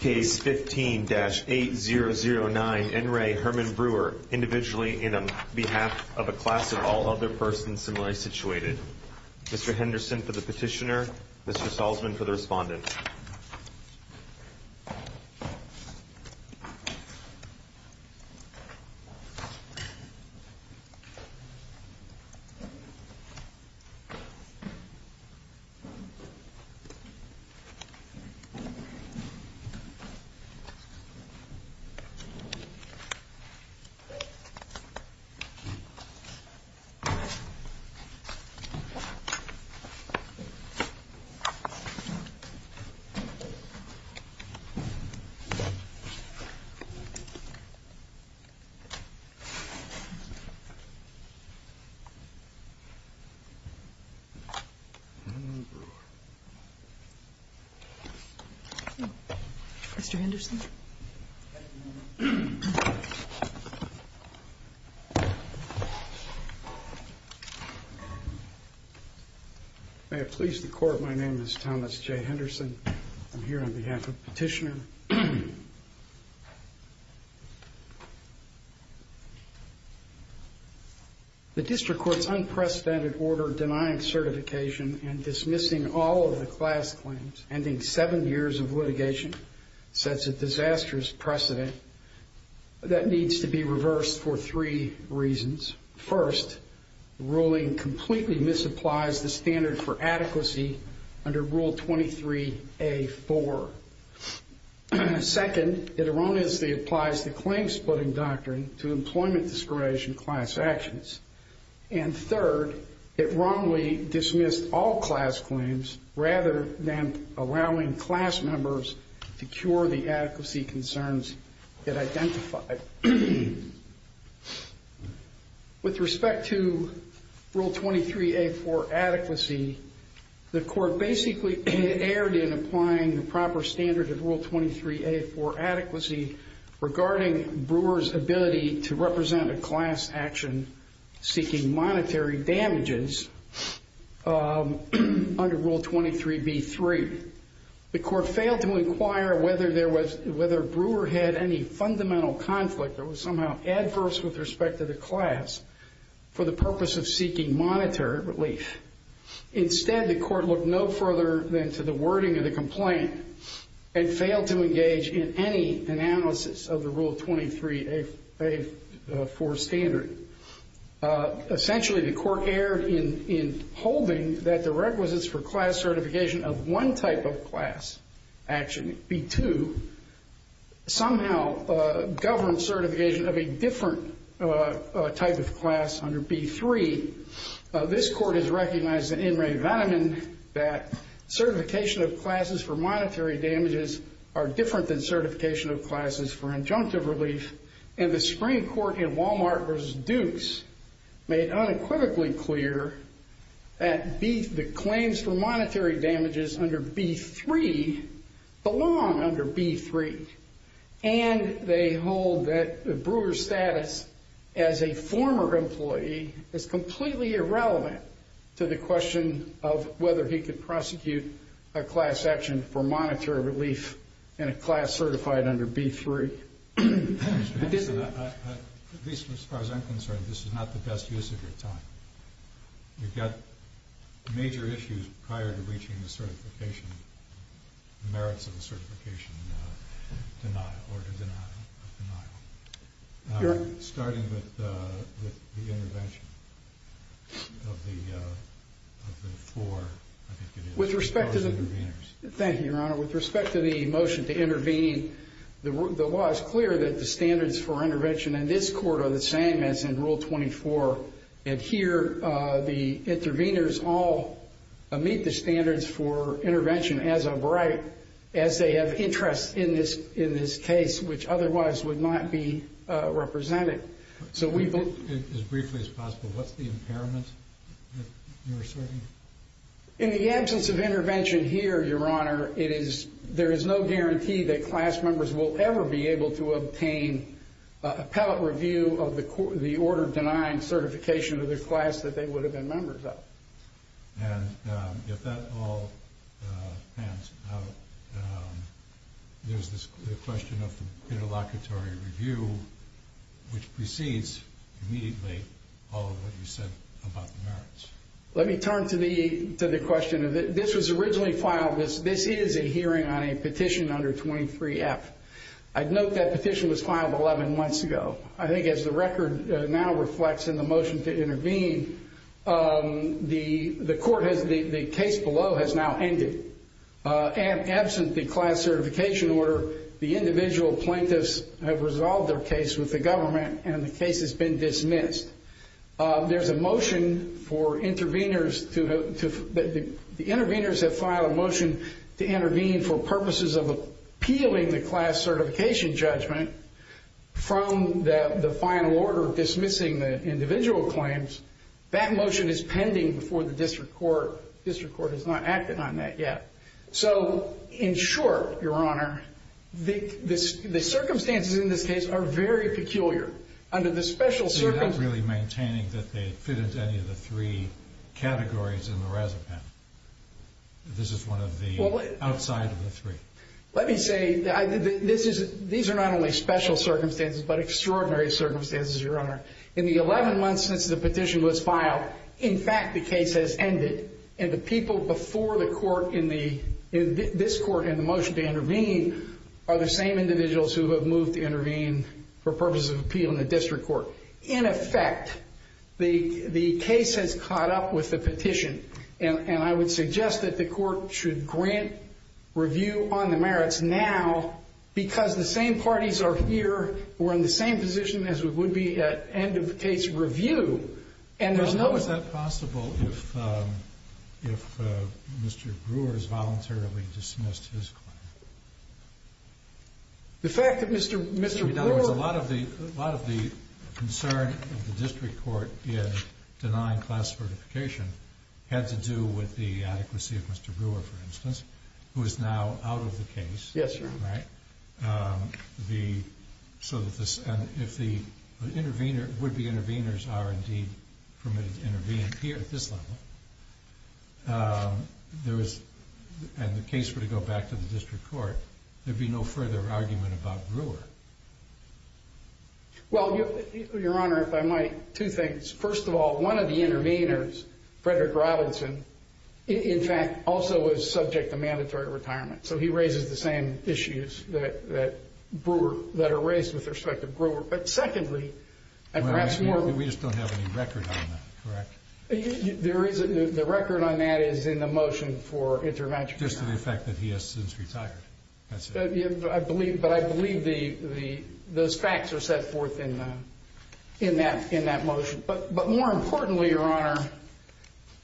Case 15-8009, N. Ray Herman Brewer, individually and on behalf of a class of all other persons similarly situated. Mr. Henderson for the petitioner, Mr. Salzman for the respondent. Mr. Henderson. May it please the court, my name is Thomas J. Henderson. I'm here on behalf of the petitioner. The district court's unprecedented order denying certification and dismissing all of the class claims, ending seven years of litigation, sets a disastrous precedent that needs to be reversed for three reasons. First, ruling completely misapplies the standard for adequacy under Rule 23A-4. Second, it erroneously applies the claim-splitting doctrine to employment discrimination class actions. And third, it wrongly dismissed all class claims rather than allowing class members to cure the adequacy concerns it identified. With respect to Rule 23A-4 adequacy, the court basically erred in applying the proper standard of Rule 23A-4 adequacy regarding Brewer's ability to represent a class action seeking monetary damages under Rule 23B-3. The court failed to inquire whether Brewer had any fundamental conflict or was somehow adverse with respect to the class for the purpose of seeking monetary relief. Instead, the court looked no further than to the wording of the complaint and failed to engage in any analysis of the Rule 23A-4 standard. Essentially, the court erred in holding that the requisites for class certification of one type of class action, B-2, somehow govern certification of a different type of class under B-3. This court has recognized in Ray Veneman that certification of classes for monetary damages are different than certification of classes for injunctive relief. And the Supreme Court in Walmart v. Dukes made unequivocally clear that the claims for monetary damages under B-3 belong under B-3. And they hold that Brewer's status as a former employee is completely irrelevant to the question of whether he could prosecute a class action for monetary relief in a class certified under B-3. At least as far as I'm concerned, this is not the best use of your time. You've got major issues prior to reaching the merits of the certification denial, or the denial of denial, starting with the intervention of the four, I think it is. With respect to the readers. Thank you, Your Honor. With respect to the motion to intervene, the law is clear that the standards for intervention in this court are the same as in Rule 24. And here, the interveners all meet the standards for intervention as of right, as they have interest in this case, which otherwise would not be represented. So we've been. As briefly as possible, what's the impairment that you're asserting? In the absence of intervention here, Your Honor, there is no guarantee that class members will ever be able to obtain appellate review of the order denying certification of the class that they would have been members of. And if that all pans out, there's this question of the interlocutory review, which precedes immediately all of what you said about the merits. Let me turn to the question. This was originally filed. This is a hearing on a petition under 23-F. I'd note that petition was filed 11 months ago. I think as the record now reflects in the motion to intervene, the case below has now ended. And absent the class certification order, the individual plaintiffs have resolved their case with the government. And the case has been dismissed. There's a motion for interveners to vote. The interveners have filed a motion to intervene for purposes of appealing the class certification judgment from the final order dismissing the individual claims. That motion is pending before the district court. District court has not acted on that yet. So in short, Your Honor, the circumstances in this case are very peculiar. Under the special circumstances. So you're not really maintaining that they were on the Razapan. This is one of the outside of the three. Let me say, these are not only special circumstances, but extraordinary circumstances, Your Honor. In the 11 months since the petition was filed, in fact, the case has ended. And the people before this court in the motion to intervene are the same individuals who have moved to intervene for purposes of appeal in the district court. In effect, the case has caught up with the petition. And I would suggest that the court should grant review on the merits now, because the same parties are here, we're in the same position as we would be at end of case review, and there's no- How is that possible if Mr. Brewer has voluntarily dismissed his claim? The fact that Mr. Brewer- A lot of the concern of the district court in denying class certification had to do with the adequacy of Mr. Brewer, for instance, who is now out of the case. Yes, Your Honor. Right? And if the intervener, would-be interveners are indeed permitted to intervene here at this level, and the case were to go back to the district court, there'd be no further argument about Brewer. Well, Your Honor, if I might, two things. First of all, one of the interveners, Frederick Robinson, in fact, also is subject to mandatory retirement. So he raises the same issues that are raised with respect to Brewer. But secondly, and perhaps more- We just don't have any record on that, correct? The record on that is in the motion for intervention. Just to the effect that he has since retired, that's it. But I believe those facts are set forth in that motion. But more importantly, Your Honor,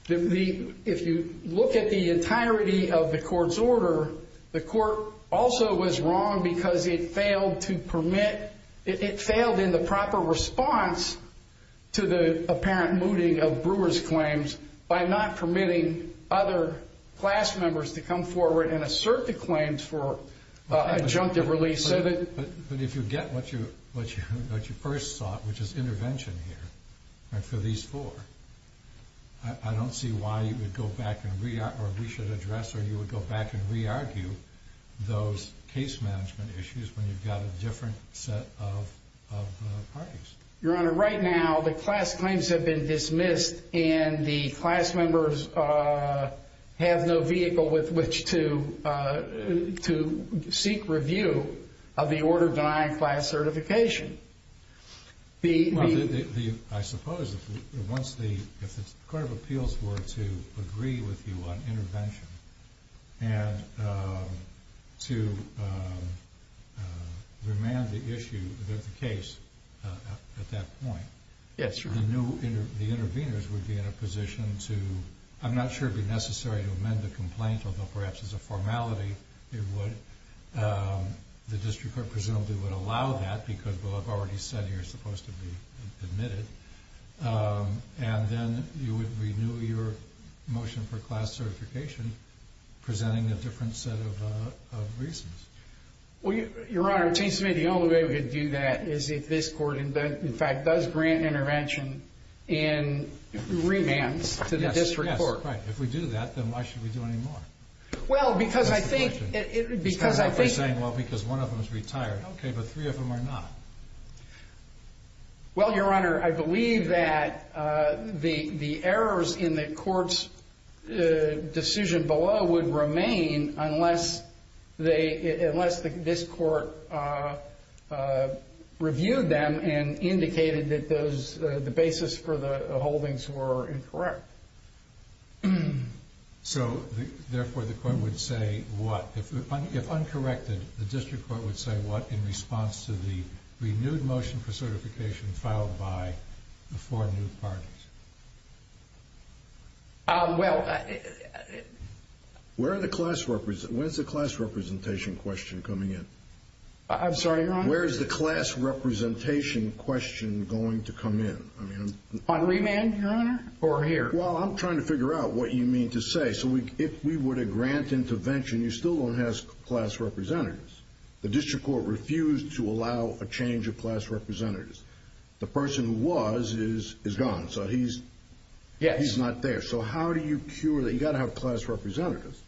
if you look at the entirety of the court's order, the court also was wrong because it failed to permit- it failed in the proper response to the apparent mooting of Brewer's claims by not permitting other class members to come forward and assert the claims for adjunctive release. But if you get what you first sought, which is intervention here, and for these four, I don't see why you would go back and re-argue, or we should address, or you would go back and re-argue those case management issues when you've got a different set of parties. Your Honor, right now, the class claims have been dismissed, and the class members have no vehicle with which to seek review of the order denying class certification. I suppose that once the Court of Appeals were to agree with you on intervention and to remand the issue that the case at that point, the new intervenors would be in a position to, I'm not sure it would be necessary to amend the complaint, although perhaps as a formality it would. The district court presumably would allow that, because we'll have already said here it's supposed to be admitted. And then you would renew your motion for class certification, presenting a different set of reasons. Well, Your Honor, it seems to me the only way we could do that is if this court in fact does grant intervention and remands to the district court. Yes, right. If we do that, then why should we do any more? Well, because I think it's because I think It's kind of like they're saying, well, because one of them is retired. OK, but three of them are not. Well, Your Honor, I believe that the errors in the court's decision below would remain unless this court reviewed them and indicated that those, the basis for the holdings were incorrect. So therefore, the court would say what? If uncorrected, the district court would say what in response to the renewed motion for certification filed by the four new parties? Well, I. Where are the class, when is the class representation question coming in? I'm sorry, Your Honor? Where is the class representation question going to come in? On remand, Your Honor? Or here? Well, I'm trying to figure out what you mean to say. So if we were to grant intervention, you still don't have class representatives. The district court refused to allow a change of class representatives. The person who was is gone. So he's not there. So how do you cure that? You've got to have class representatives.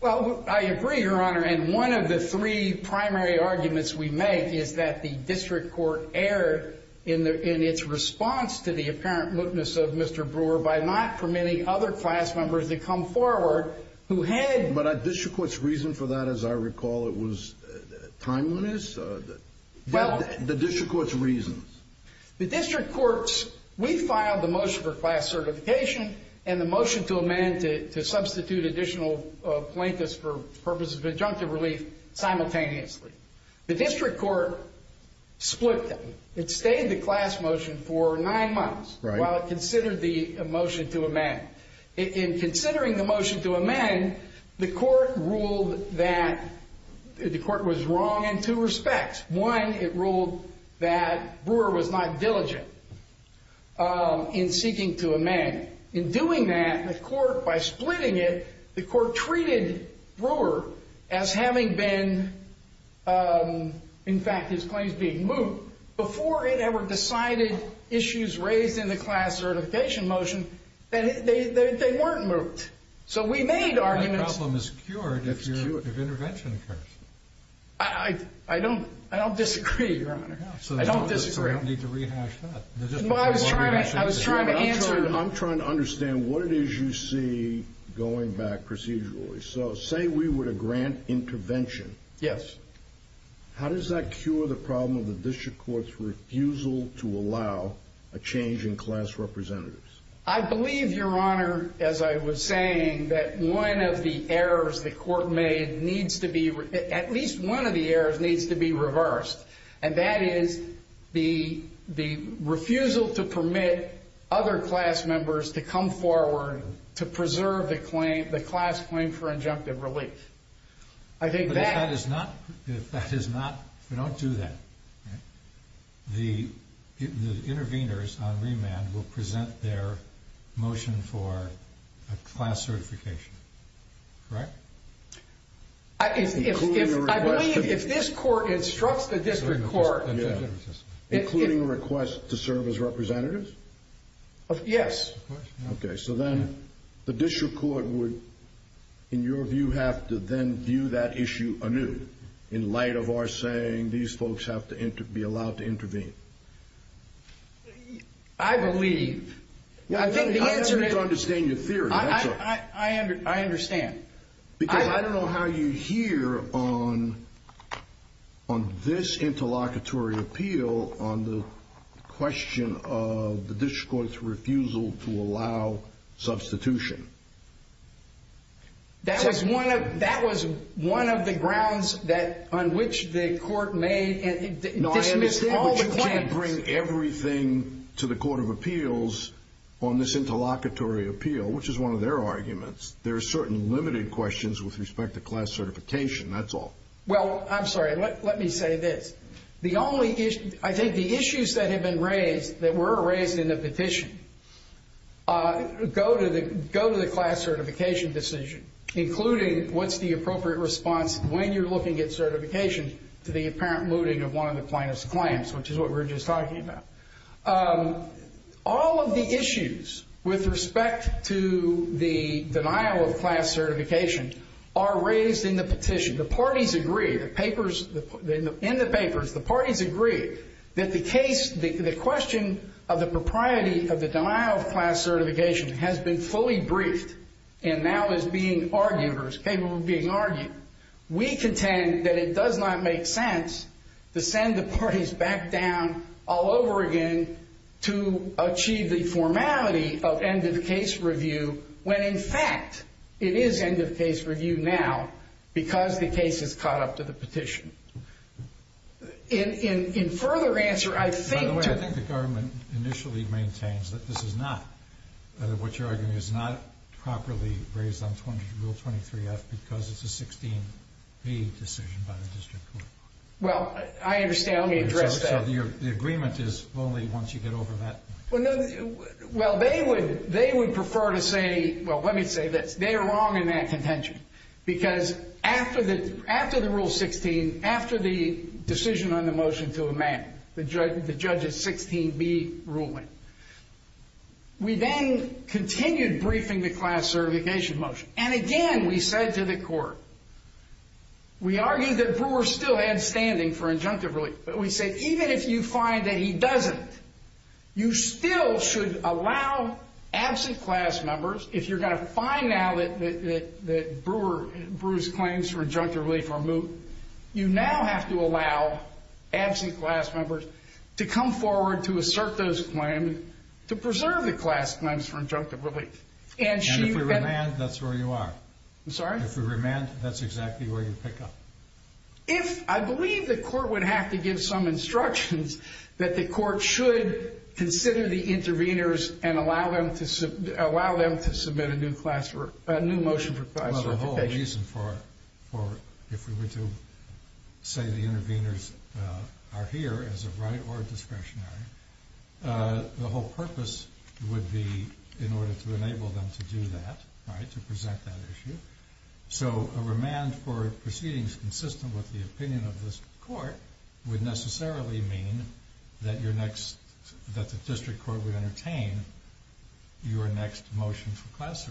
Well, I agree, Your Honor. And one of the three primary arguments we make is that the district court erred in its response to the apparent mootness of Mr. Brewer by not permitting other class members to come forward who had. But a district court's reason for that, as I recall, it was timeliness? The district court's reasons. The district court's, we filed the motion for class certification and the motion to amend to substitute additional plaintiffs for purposes of injunctive relief simultaneously. The district court split them. It stayed the class motion for nine months while it considered the motion to amend. In considering the motion to amend, the court ruled that the court was wrong in two respects. One, it ruled that Brewer was not diligent in seeking to amend. In doing that, the court, by splitting it, the court treated Brewer as having been, in fact, his claims being moot before it ever decided issues raised in the class certification motion that they weren't moot. So we made arguments. That problem is cured if intervention occurs. I don't disagree, Your Honor. I don't disagree. So you don't need to rehash that. Well, I was trying to answer. I'm trying to understand what it is you see going back procedurally. So say we were to grant intervention. Yes. How does that cure the problem of the district court's refusal to allow a change in class representatives? I believe, Your Honor, as I was saying, that one of the errors the court made needs to be, at least one of the errors needs to be reversed. And that is the refusal to permit other class members to come forward to preserve the class claim for injunctive relief. I think that is not. If that is not, if we don't do that, the intervenors on remand will present their motion for a class certification. Correct? Including a request to serve as representatives? I believe if this court instructs the district court. Including a request to serve as representatives? Yes. OK, so then the district court would, in your view, have to then view that issue anew in light of our saying these folks have to be allowed to intervene. I believe. I think the answer is. I don't understand your theory. I understand. Because I don't know how you hear on this interlocutory appeal on the question of the district court's refusal to allow substitution. That was one of the grounds that on which the court made. No, I understand, but you can't bring everything to the court of appeals on this interlocutory appeal, which is one of their arguments. There are certain limited questions with respect to class certification, that's all. Well, I'm sorry, let me say this. The only issue, I think the issues that have been raised, that were raised in the petition, go to the class certification decision, including what's the appropriate response when you're looking at certification to the apparent looting of one of the plaintiff's claims, which is what we're just talking about. All of the issues with respect to the denial of class certification are raised in the petition. The parties agree. In the papers, the parties agree that the question of the propriety of the denial of class certification has been fully briefed, and now is being argued, or is capable of being argued. We contend that it does not make sense to send the parties back down all over again to achieve the formality of end of case review, when in fact, it is end of case review now, because the case is caught up to the petition. In further answer, I think to the government initially maintains that this is not, that what you're arguing is not properly raised on Rule 23-F, because it's a 16-B decision by the district court. Well, I understand. Let me address that. So the agreement is only once you get over that. Well, no. Well, they would prefer to say, well, let me say this. They are wrong in that contention, because after the Rule 16, after the decision on the motion to amend the Judge's 16-B ruling, we then continued briefing the class certification motion. And again, we said to the court, we argued that Brewer still had standing for injunctive relief. But we said, even if you find that he doesn't, you still should allow absent class members, if you're going to find now that Brewer's claims for injunctive relief are moot, you now have to allow absent class members to come forward to assert those claims to preserve the class claims for injunctive relief. And if we remand, that's where you are. I'm sorry? If we remand, that's exactly where you pick up. I believe the court would have to give some instructions that the court should consider the interveners and allow them to submit a new motion for class certification. Well, the whole reason for, if we were to say the interveners are here as a right or a discretionary, the whole purpose would be in order to enable them to do that, to present that issue. So a remand for proceedings consistent with the opinion of this court would necessarily mean that the district court would entertain your next motion for class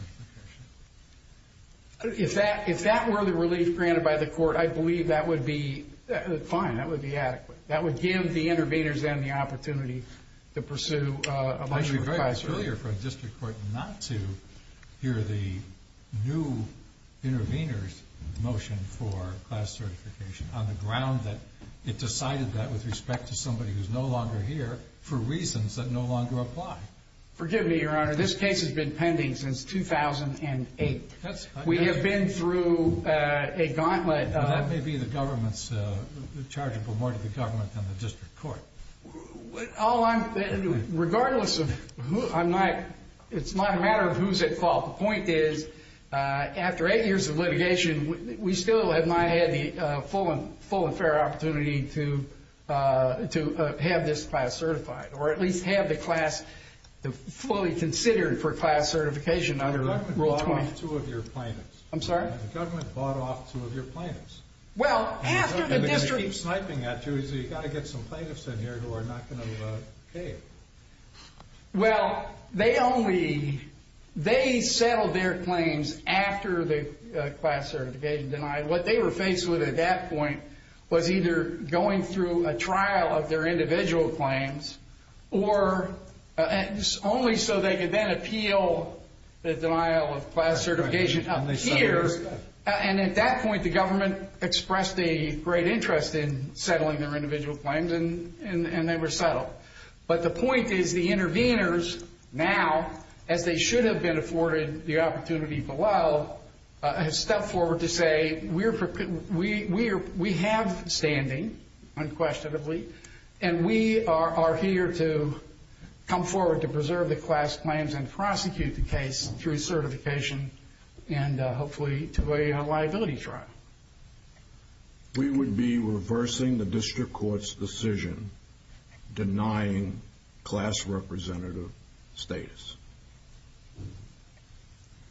certification. If that were the relief granted by the court, I believe that would be fine. That would be adequate. That would give the interveners then the opportunity to pursue a motion for class certification. It would be very failure for a district court not to hear the new interveners' motion for class certification on the ground that it decided that with respect to somebody who's no longer here for reasons that no longer apply. Forgive me, Your Honor, this case has been pending since 2008. We have been through a gauntlet of- That may be the government's charge of promoting the government than the district court. Regardless of who I'm not, it's not a matter of who's at fault. The point is, after eight years of litigation, we still have not had the full and fair opportunity to have this class certified, or at least have the class fully considered for class certification under Rule 20. The government bought off two of your plaintiffs. I'm sorry? The government bought off two of your plaintiffs. Well, after the district- And they're going to keep sniping at you. So you've got to get some plaintiffs in here who are not going to pay. Well, they only- they settled their claims after the class certification denial. What they were faced with at that point was either going through a trial of their individual claims, or only so they could then appeal the denial of class certification up here. And at that point, the government expressed a great interest in settling their individual claims, and they were settled. But the point is, the interveners now, as they should have been afforded the opportunity below, have stepped forward to say, we have standing, unquestionably. And we are here to come forward to preserve the class claims and prosecute the case through certification, and hopefully to a liability trial. We would be reversing the district court's decision, denying class representative status.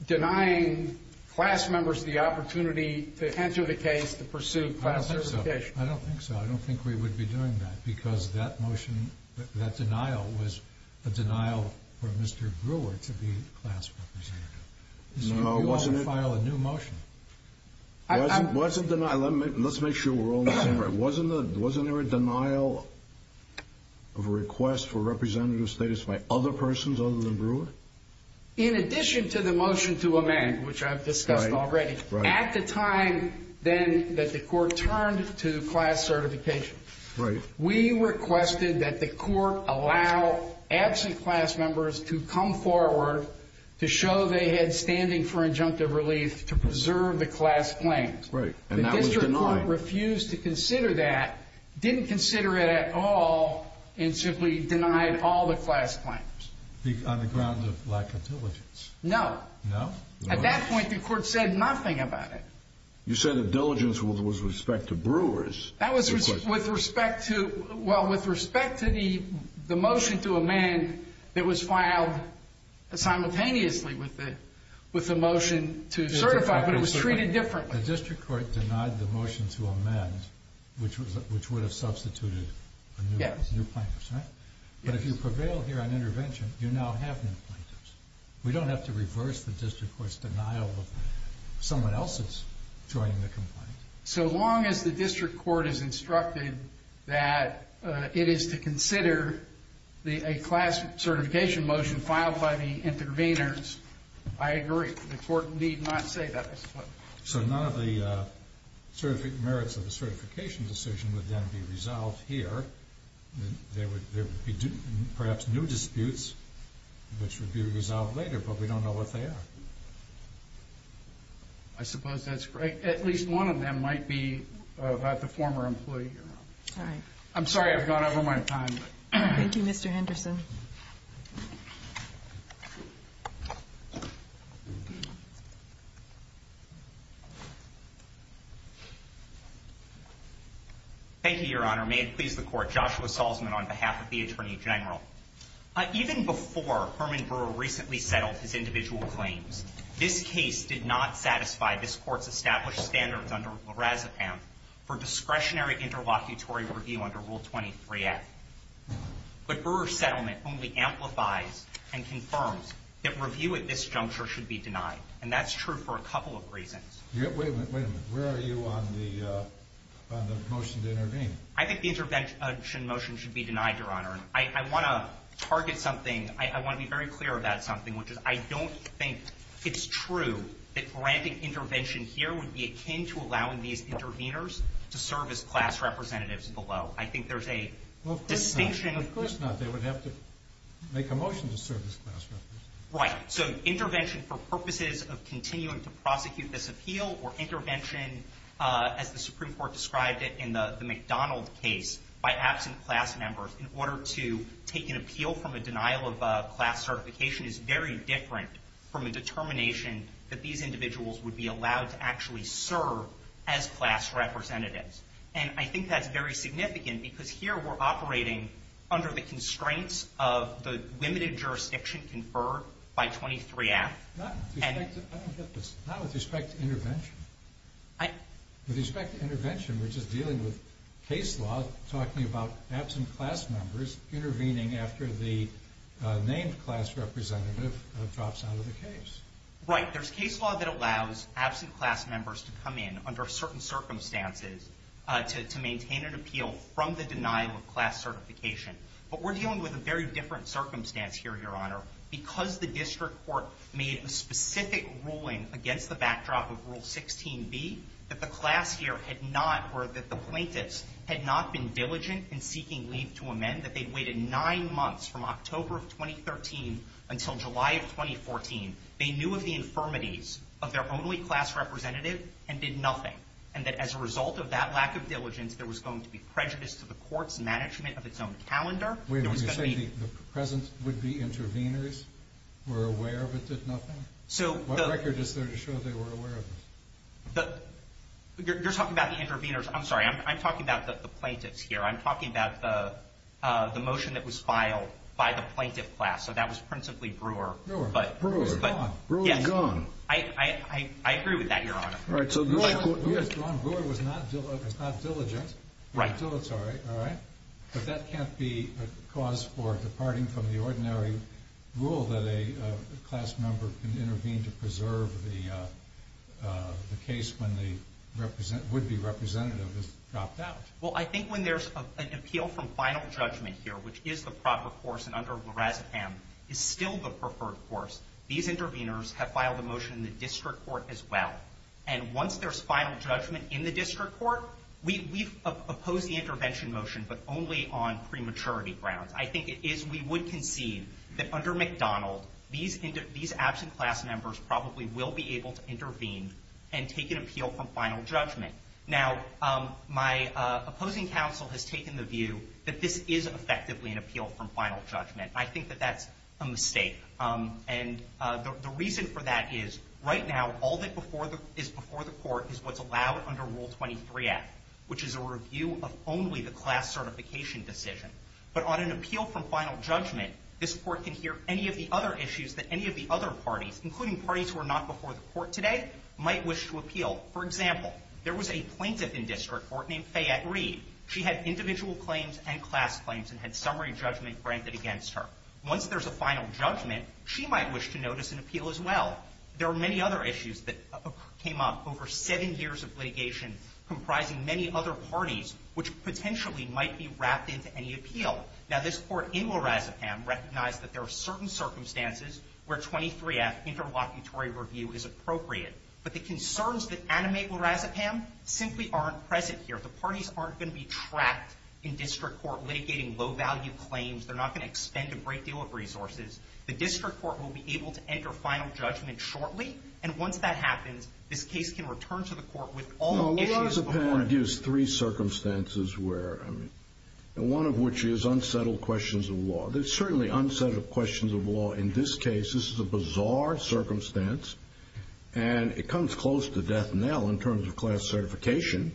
Denying class members the opportunity to enter the case to pursue class certification. I don't think so. I don't think we would be doing that, because that motion, that denial, was a denial for Mr. Brewer to be class representative. No, wasn't it? You all can file a new motion. Wasn't denial, let's make sure we're all on the same page. Wasn't there a denial of a request for representative status by other persons other than Brewer? In addition to the motion to amend, which I've discussed already, at the time then that the court turned to class certification, we requested that the court allow absent class members to come forward to show they had standing for injunctive relief to preserve the class claims. Right, and that was denied. The district court refused to consider that, didn't consider it at all, and simply denied all the class claims. On the grounds of lack of diligence. No. No? At that point, the court said nothing about it. You said the diligence was with respect to Brewers. That was with respect to, well, with respect to the motion to amend that was filed simultaneously with the motion to certify, but it was treated differently. The district court denied the motion to amend, which would have substituted a new plaintiff. But if you prevail here on intervention, you now have new plaintiffs. We don't have to reverse the district court's denial of someone else's joining the complaint. So long as the district court is instructed that it is to consider a class certification motion filed by the intervenors, I agree. The court need not say that, I suppose. So none of the merits of the certification decision would then be resolved here. There would be, perhaps, new disputes, which would be resolved later, but we don't know what they are. I suppose that's correct. At least one of them might be about the former employee. I'm sorry I've gone over my time. Thank you, Mr. Henderson. Thank you, Your Honor. May it please the court. Joshua Salzman on behalf of the Attorney General. Even before Herman Brewer recently settled his individual claims, this case did not satisfy this court's established standards under Lorazepam for discretionary interlocutory review under Rule 23-F. But Brewer's settlement only amplifies and confirms that review at this juncture should be denied. And that's true for a couple of reasons. Wait a minute. Where are you on the motion to intervene? I think the intervention motion should be denied, Your Honor. I want to target something. I want to be very clear about something, which is I don't think it's true that granting intervention here would be akin to allowing these interveners to serve as class representatives below. I think there's a distinction. Of course not. They would have to make a motion to serve as class representatives. Right. So intervention for purposes of continuing to prosecute this appeal or intervention, as the Supreme Court described it in the McDonald case, by absent class members in order to take an appeal from a denial of class certification is very different from a determination that these individuals would be allowed to actually serve as class representatives. And I think that's very significant, because here we're operating under the constraints of the limited jurisdiction conferred by 23-F. Not with respect to intervention. With respect to intervention, we're just dealing with case law talking about absent class members intervening after the named class representative drops out of the case. Right. There's case law that allows absent class members to come in under certain circumstances to maintain an appeal from the denial of class certification. But we're dealing with a very different circumstance here, Your Honor. Because the district court made a specific ruling against the backdrop of Rule 16b, that the class here had not, or that the plaintiffs had not been diligent in seeking leave to amend, that they'd waited nine months from October of 2013 until July of 2014. They knew of the infirmities of their only class representative and did nothing. And that as a result of that lack of diligence, there was going to be prejudice to the court's management of its own calendar. Wait a minute. You're saying the present would-be interveners were aware but did nothing? So the record is there to show they were aware of it? You're talking about the interveners. I'm sorry. I'm talking about the plaintiffs here. I'm talking about the motion that was filed by the plaintiff class. So that was principally Brewer. Brewer. Brewer. Gone. Brewer is gone. I agree with that, Your Honor. All right. So your point was, Ron Brewer was not diligent. Right. Dilatory. All right. But that can't be a cause for departing from the ordinary rule that a class member can intervene to preserve the case when the would-be representative is dropped out. Well, I think when there's an appeal from final judgment here, which is the proper course and under Lorazepam is still the preferred course, these interveners have filed a motion in the district court as well. And once there's final judgment in the district court, we've opposed the intervention motion, but only on prematurity grounds. I think it is we would concede that under McDonald, these absent class members probably will be able to intervene and take an appeal from final judgment. Now, my opposing counsel has taken the view that this is effectively an appeal from final judgment. I think that that's a mistake. And the reason for that is, right now, all that is before the court is what's allowed under Rule 23-F, which is a review of only the class certification decision. But on an appeal from final judgment, this court can hear any of the other issues that any of the other parties, including parties who are not before the court today, might wish to appeal. For example, there was a plaintiff in district court named Fayette Reed. She had individual claims and class claims and had summary judgment granted against her. Once there's a final judgment, she might wish to notice an appeal as well. There are many other issues that came up over seven years of litigation comprising many other parties, which potentially might be wrapped into any appeal. Now, this court in La Razapam recognized that there are certain circumstances where 23-F interlocutory review is appropriate. But the concerns that animate La Razapam simply aren't present here. The parties aren't going to be trapped in district court litigating low-value claims. They're not going to expend a great deal of resources. The district court will be able to enter final judgment shortly. And once that happens, this case can return to the court with all the issues before it. No, La Razapam gives three circumstances where, one of which is unsettled questions of law. There's certainly unsettled questions of law. In this case, this is a bizarre circumstance. And it comes close to death knell in terms of class certification,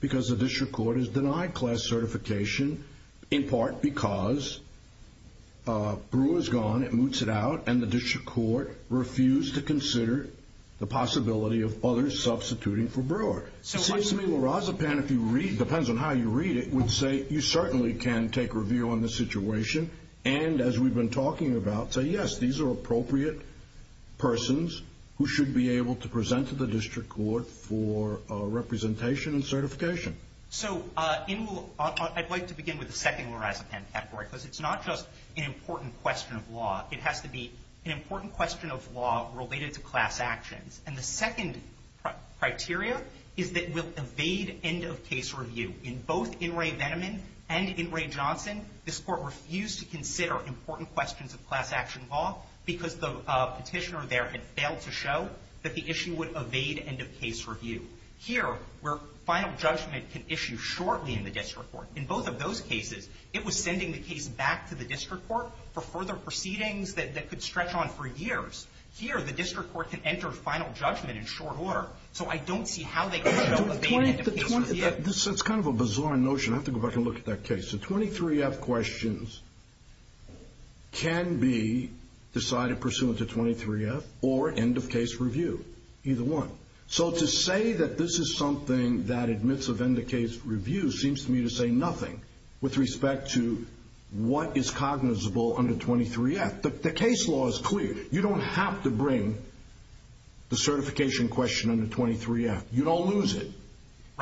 because the district court has denied class certification, in part because Brewer is gone. It moots it out. And the district court refused to consider the possibility of others substituting for Brewer. Seems to me La Razapam, if you read, depends on how you read it, would say, you certainly can take review on the situation. And as we've been talking about, say, yes, these are appropriate persons who should be able to present to the district court for representation and certification. So I'd like to begin with the second La Razapam category, because it's not just an important question of law. It has to be an important question of law related to class actions. And the second criteria is that we'll evade end of case review. In both In re Veneman and In re Johnson, this court refused to consider important questions of class action law, because the petitioner there had failed to show that the issue would evade end of case review. Here, where final judgment can issue shortly in the district court, in both of those cases, it was sending the case back to the district court for further proceedings that could stretch on for years. Here, the district court can enter final judgment in short order. So I don't see how they can show evading end of case review. It's kind of a bizarre notion. I have to go back and look at that case. So 23-F questions can be decided pursuant to 23-F or end of case review, either one. So to say that this is something that admits of end of case review seems to me to say nothing with respect to what is cognizable under 23-F. The case law is clear. You don't have to bring the certification question under 23-F. You don't lose it.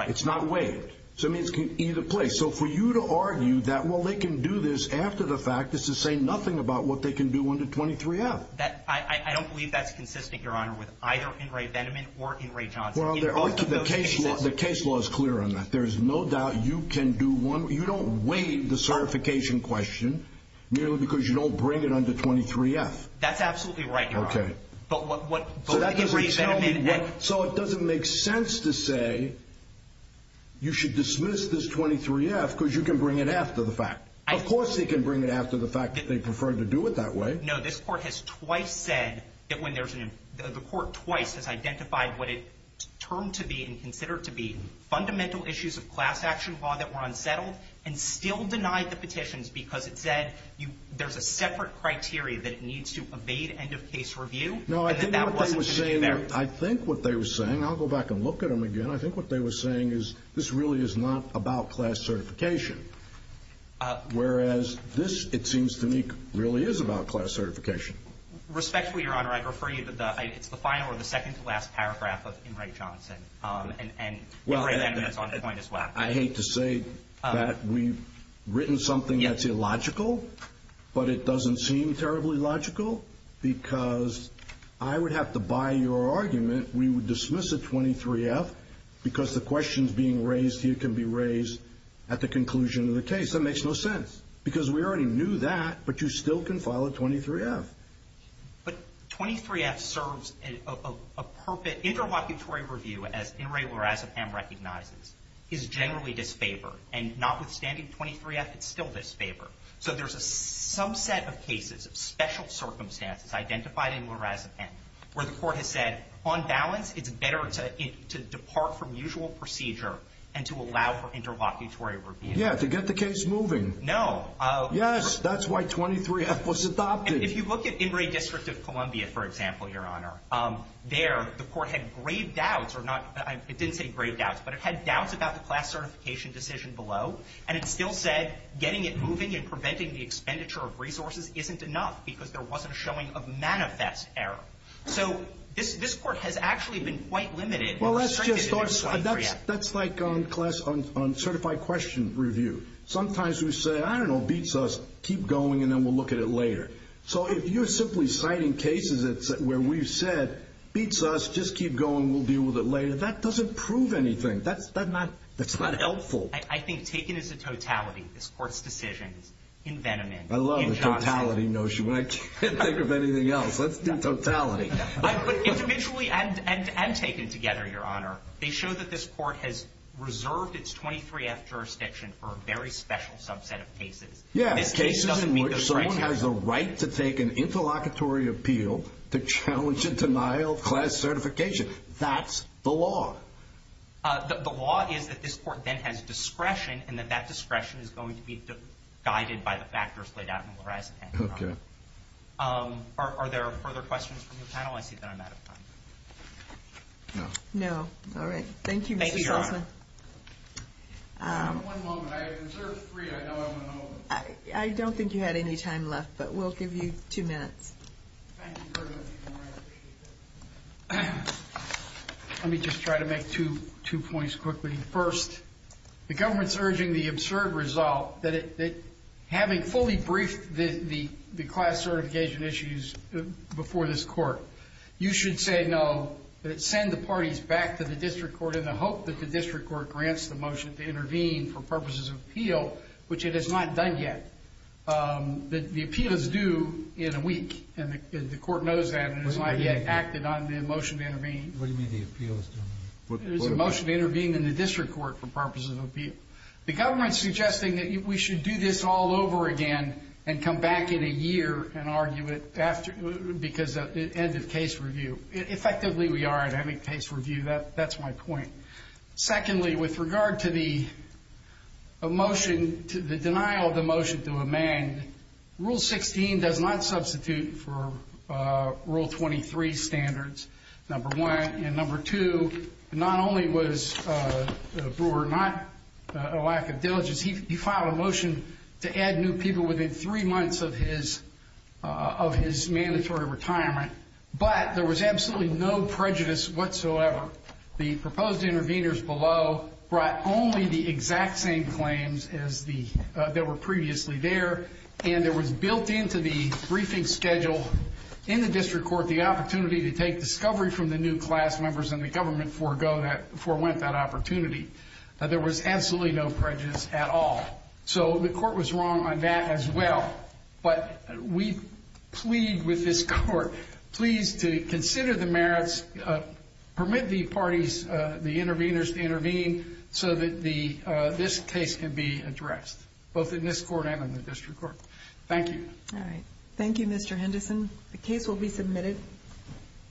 It's not waived. So it means it can be either place. So for you to argue that, well, they can do this after the fact is to say nothing about what they can do under 23-F. I don't believe that's consistent, Your Honor, with either in Ray Veneman or in Ray Johnson. Well, the case law is clear on that. There is no doubt you can do one. You don't waive the certification question merely because you don't bring it under 23-F. That's absolutely right, Your Honor. But what both in Ray Veneman and- So it doesn't make sense to say you should dismiss this 23-F because you can bring it after the fact. Of course they can bring it after the fact that they prefer to do it that way. No, this court has twice said that when there's an- the court twice has identified what it termed to be and considered to be fundamental issues of class action law that were unsettled and still denied the petitions because it said there's a separate criteria that it needs to evade end of case review. No, I think what they were saying- I think what they were saying, I'll go back and look at them again. I think what they were saying is this really is not about class certification. Whereas this, it seems to me, really is about class certification. Respectfully, Your Honor, I'd refer you to the- it's the final or the second to last paragraph of Ingrate Johnson and Ray Veneman's point as well. I hate to say that we've written something that's illogical, but it doesn't seem terribly logical because I would have to buy your argument. We would dismiss a 23-F because the questions being raised here can be raised at the conclusion of the case. That makes no sense because we already knew that, but you still can file a 23-F. But 23-F serves a perpet- interlocutory review, as Ingrate Lorazepam recognizes, is generally disfavored. And notwithstanding 23-F, it's still disfavored. So there's a subset of cases of special circumstances identified in Lorazepam where the court has said, on balance, it's better to depart from usual procedure and to allow for interlocutory review. Yeah, to get the case moving. No. Yes, that's why 23-F was adopted. If you look at Ingrate District of Columbia, for example, Your Honor, there, the court had grave doubts, or not- it didn't say grave doubts, but it had doubts about the class certification decision below, and it still said getting it moving and preventing the expenditure of resources isn't enough because there wasn't a showing of manifest error. So this court has actually been quite limited. Well, that's just our side. That's like on class- on certified question review. Sometimes we say, I don't know, beats us, keep going, and then we'll look at it later. So if you're simply citing cases where we've said, beats us, just keep going, we'll deal with it later, that doesn't prove anything. That's not helpful. I think taken as a totality, this court's decision is envenoment, injustice. I love the totality notion, but I can't think of anything else. Let's do totality. But individually and taken together, Your Honor, they show that this court has reserved its 23-F jurisdiction for a very special subset of cases. Yeah, cases in which someone has the right to take an interlocutory appeal to challenge a denial of class certification. That's the law. The law is that this court then has discretion and that that discretion is going to be guided by the factors laid out in the law. OK. Are there further questions from the panel? I see that I'm out of time. No. All right. Thank you, Mr. Soltzman. Thank you, Your Honor. One moment. I observed three. I know I went over. I don't think you had any time left, but we'll give you two minutes. Thank you very much, Your Honor, I appreciate that. Let me just try to make two points quickly. First, the government's urging the absurd result that having fully briefed the class certification issues before this court, you should say no, that it send the parties back to the district court in the hope that the district court grants the motion to intervene for purposes of appeal, which it has not done yet. The appeal is due in a week. And the court knows that, and it has not yet acted on the motion to intervene. What do you mean the appeal is due in a week? It is a motion to intervene in the district court for purposes of appeal. The government's suggesting that we should do this all over again and come back in a year and argue it because of end of case review. Effectively, we are at end of case review. That's my point. Secondly, with regard to the motion, to the denial of the motion to amend, Rule 16 does not substitute for Rule 23 standards, number one. And number two, not only was Brewer not a lack of diligence, he filed a motion to add new people within three months of his mandatory retirement. But there was absolutely no prejudice whatsoever. The proposed intervenors below brought only the exact same claims that were previously there. And there was built into the briefing schedule in the district court the opportunity to take discovery from the new class members and the government forewent that opportunity. There was absolutely no prejudice at all. So the court was wrong on that as well. But we plead with this court, please, to consider the merits, permit the parties, the intervenors to intervene so that this case can be addressed, both in this court and in the district court. Thank you. Thank you, Mr. Henderson. The case will be submitted.